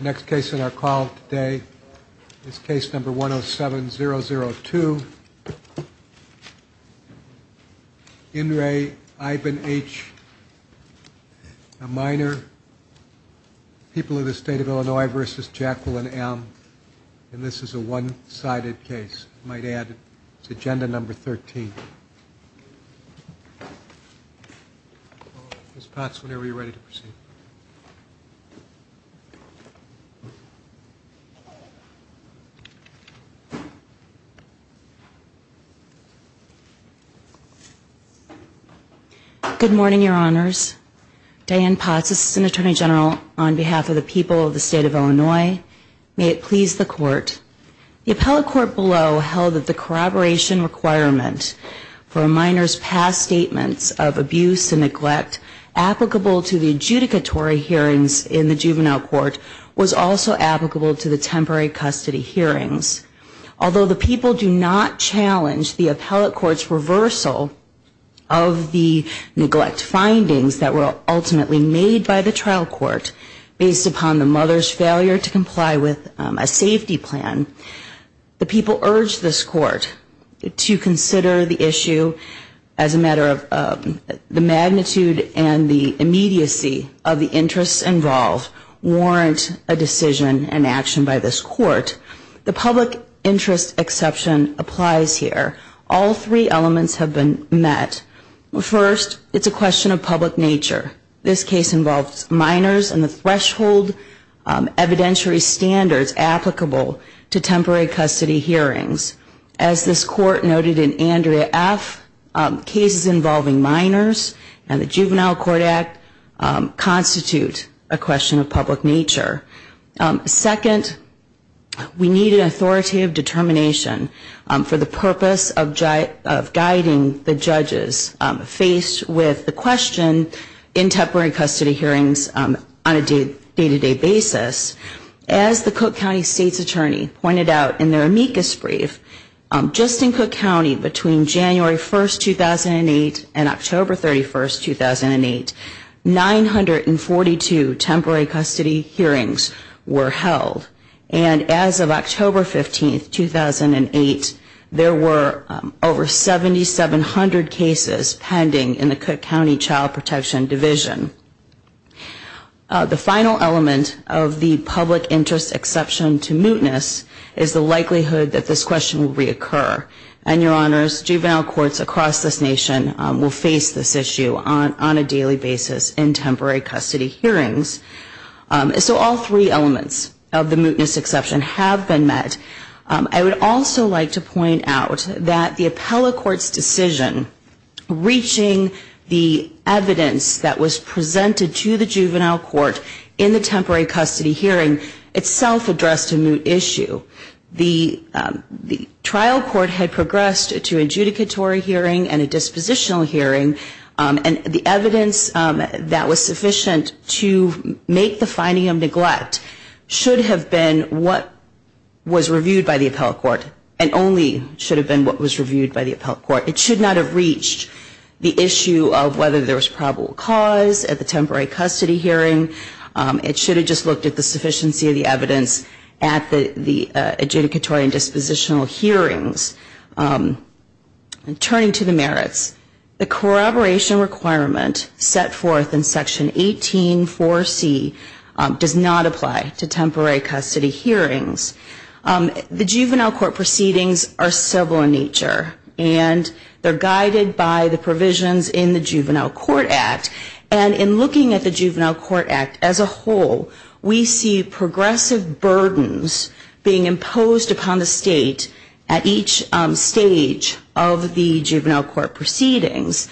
Next case in our call today is case number 107002. In re Ivan H. A minor. People of the state of Illinois versus Jacqueline M. And this is a one-sided case. I might add it's agenda number 13. Ms. Potts, whenever you're ready to proceed. Ms. Potts. Good morning, your honors. Diane Potts, assistant attorney general on behalf of the people of the state of Illinois. May it please the court. The appellate court below held that the corroboration requirement for a minor's past statements of abuse and neglect applicable to the adjudicatory hearings in the juvenile court was also applicable to the temporary custody hearings. Although the people do not challenge the appellate court's reversal of the neglect findings that were ultimately made by the trial court based upon the mother's failure to comply with a safety plan, the people urged this court to consider the issue as a matter of the magnitude and the immediacy of the interests involved warrant a decision and action by this court. The public interest exception applies here. All three elements have been met. First, it's a question of public nature. This case involves minors and the threshold evidentiary standards applicable to temporary custody hearings. As this court noted in Andrea F., cases involving minors and the Juvenile Court Act constitute a question of public nature. Second, we need an authoritative determination for the purpose of guiding the judges faced with the question in temporary custody hearings on a day-to-day basis. As the Cook County State's Attorney pointed out in their amicus brief, just in Cook County between January 1, 2008 and October 31, 2008, 942 temporary custody hearings were held. And as of October 15, 2008, there were over 7,700 cases pending in the Cook County Child Protection Division. The final element of the public interest exception to mootness is the likelihood that this question will reoccur. And, Your Honors, juvenile courts across this nation will face this issue on a daily basis in temporary custody hearings. So all three elements of the mootness exception have been met. I would also like to point out that the appellate court's decision reaching the evidence that was presented to the juvenile court in the temporary custody hearing itself addressed a moot issue. The trial court had progressed to an adjudicatory hearing and a dispositional hearing, and the evidence that was sufficient to make the finding of neglect should have been what was reviewed by the appellate court and only should have been what was reviewed by the appellate court. It should not have reached the issue of whether there was probable cause at the temporary custody hearing. It should have just looked at the sufficiency of the evidence at the adjudicatory and dispositional hearings. Turning to the merits, the corroboration requirement set forth in Section 184C does not apply to temporary custody hearings. The juvenile court proceedings are civil in nature, and they're guided by the provisions in the Juvenile Court Act. And in looking at the Juvenile Court Act as a whole, we see progressive burdens being imposed upon the state at each stage of the juvenile court proceedings.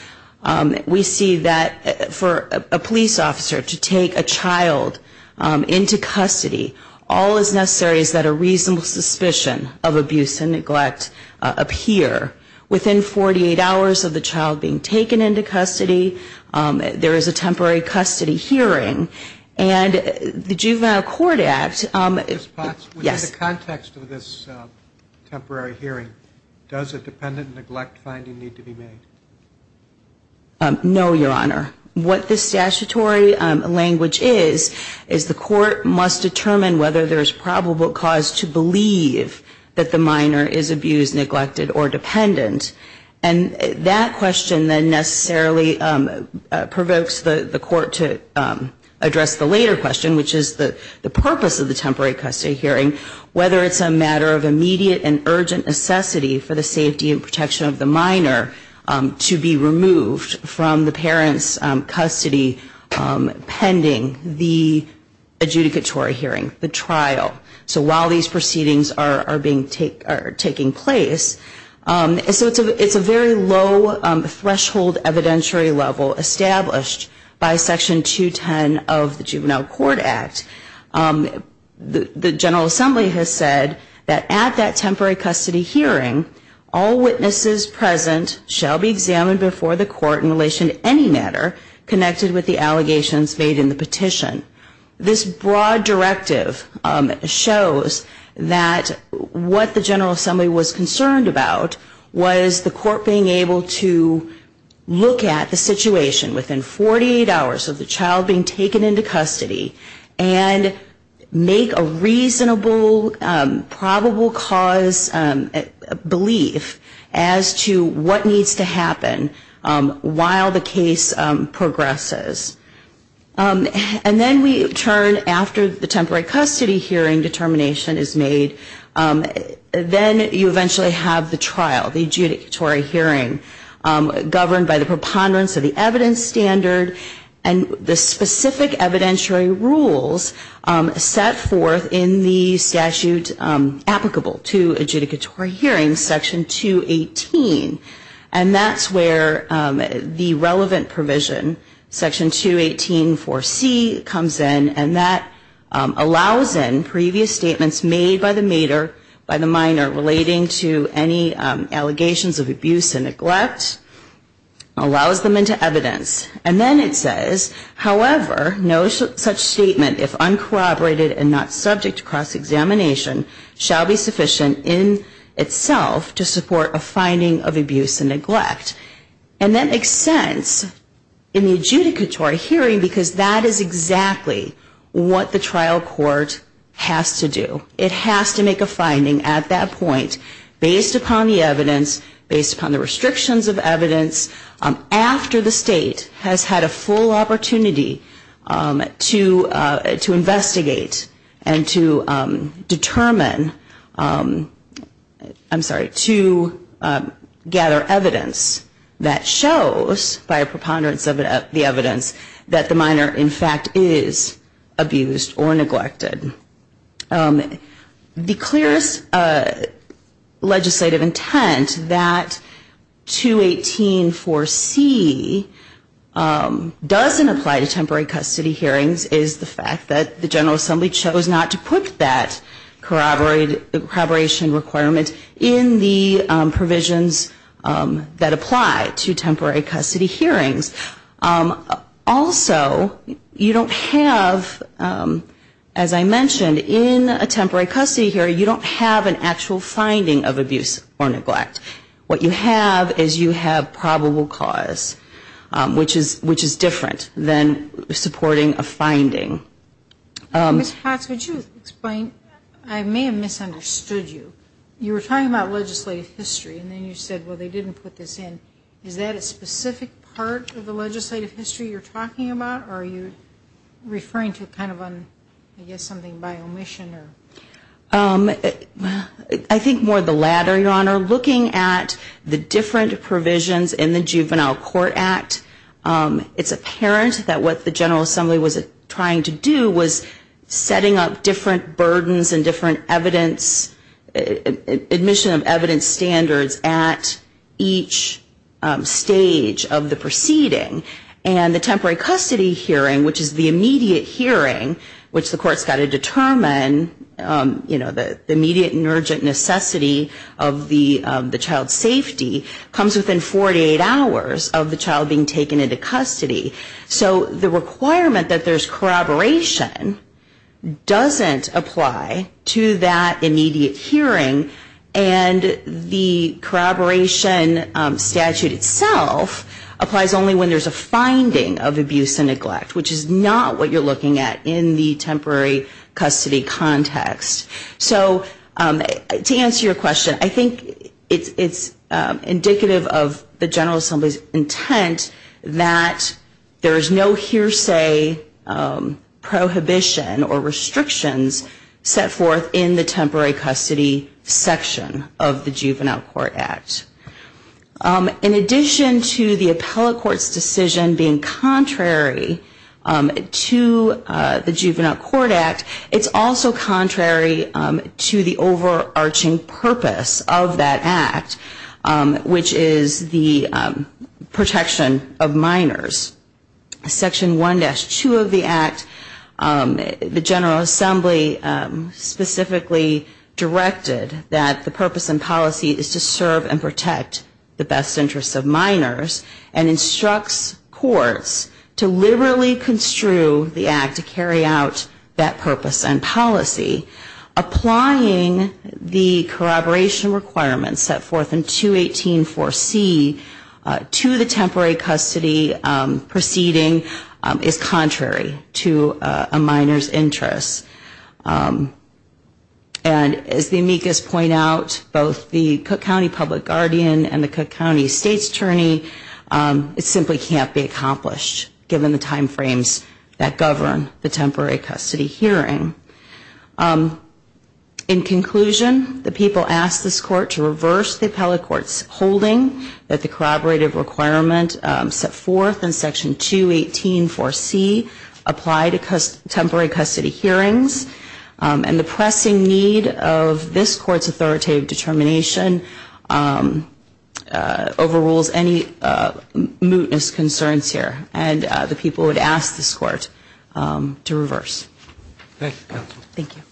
We see that for a police officer to take a child into custody, all that's necessary is that a reasonable suspicion of abuse and neglect appear. Within 48 hours of the child being taken into custody, there is a temporary custody hearing. And the Juvenile Court Act... Ms. Potts, within the context of this temporary hearing, does a dependent neglect finding need to be made? No, Your Honor. What the statutory language is, is the court must determine whether there is probable cause to believe that the minor is abused, neglected, or dependent. And that question then necessarily provokes the court to address the later question, which is the purpose of the temporary custody hearing, whether it's a matter of immediate and urgent necessity for the safety and protection of the minor to be removed from the parent's custody pending the adjudicatory hearing, the trial. So while these proceedings are taking place, it's a very low threshold evidentiary level established by Section 210 of the Juvenile Court Act. The General Assembly has said that at that temporary custody hearing, all witnesses present shall be examined before the court in relation to any matter connected with the allegations made in the petition. This broad directive shows that what the General Assembly was concerned about was the court being able to look at the situation within 48 hours of the child being taken into custody and make a reasonable probable cause belief as to what needs to happen while the case progresses. And then we turn, after the temporary custody hearing determination is made, then you eventually have the trial, the adjudicatory hearing, governed by the preponderance of the evidence standard and the specific evidentiary rules set forth in the statute applicable to adjudicatory hearings, Section 218. And that's where the relevant provision, Section 218-4C, comes in, and that allows in previous statements made by the mater, by the minor, relating to any allegations of abuse and neglect, allows them into evidence. And then it says, however, no such statement, if uncorroborated and not subject to cross-examination, shall be sufficient in itself to support a finding of abuse and neglect. And that makes sense in the adjudicatory hearing because that is exactly what the trial court has to do. It has to make a finding at that point based upon the evidence, based upon the restrictions of evidence, after the state has had a full opportunity to investigate and to determine, I'm sorry, to gather evidence that shows, by a preponderance of the evidence, that the minor in fact is abused or neglected. The clearest legislative intent that 218-4C doesn't apply to temporary custody hearings is the fact that the General Assembly chose not to put that corroboration requirement in the provisions that apply to temporary custody hearings. Also, you don't have, as I mentioned, in a temporary custody hearing, you don't have an actual finding of abuse or neglect. What you have is you have probable cause, which is different than supporting a finding. Ms. Potts, would you explain, I may have misunderstood you. You were talking about legislative history, and then you said, well, they didn't put this in. Is that a specific part of the legislative history you're talking about, or are you referring to kind of, I guess, something by omission? We're looking at the different provisions in the Juvenile Court Act. It's apparent that what the General Assembly was trying to do was setting up different burdens and different admission of evidence standards at each stage of the proceeding. And the temporary custody hearing, which is the immediate hearing, which the court's got to determine the immediate and urgent necessity of the child's safety, comes within 48 hours of the child being taken into custody. So the requirement that there's corroboration doesn't apply to that immediate hearing, and the corroboration statute itself applies only when there's a finding of abuse and neglect, which is not what you're looking at in the temporary custody context. So to answer your question, I think it's indicative of the General Assembly's intent that there is no hearsay prohibition or restrictions set forth in the temporary custody section of the Juvenile Court Act. In addition to the appellate court's decision being contrary to the Juvenile Court Act, it's also contrary to the overarching purpose of that Act, which is the protection of minors. Section 1-2 of the Act, the General Assembly specifically directed that the purpose and policy is to serve and protect minors. And it instructs courts to liberally construe the Act to carry out that purpose and policy. Applying the corroboration requirements set forth in 218-4C to the temporary custody proceeding is contrary to a minor's interest. And as the amicus point out, both the Cook County Public Guardian and the Cook County State's Attorney, it simply can't be accomplished given the time frames that govern the temporary custody hearing. In conclusion, the people asked this court to reverse the appellate court's holding that the corroborative requirement set forth in Section 218-4C apply to temporary custody hearings. And the pressing need of this court's authoritative determination overrules any mootness concerns here. And the people would ask this court to reverse. Thank you, Counsel. Thank you.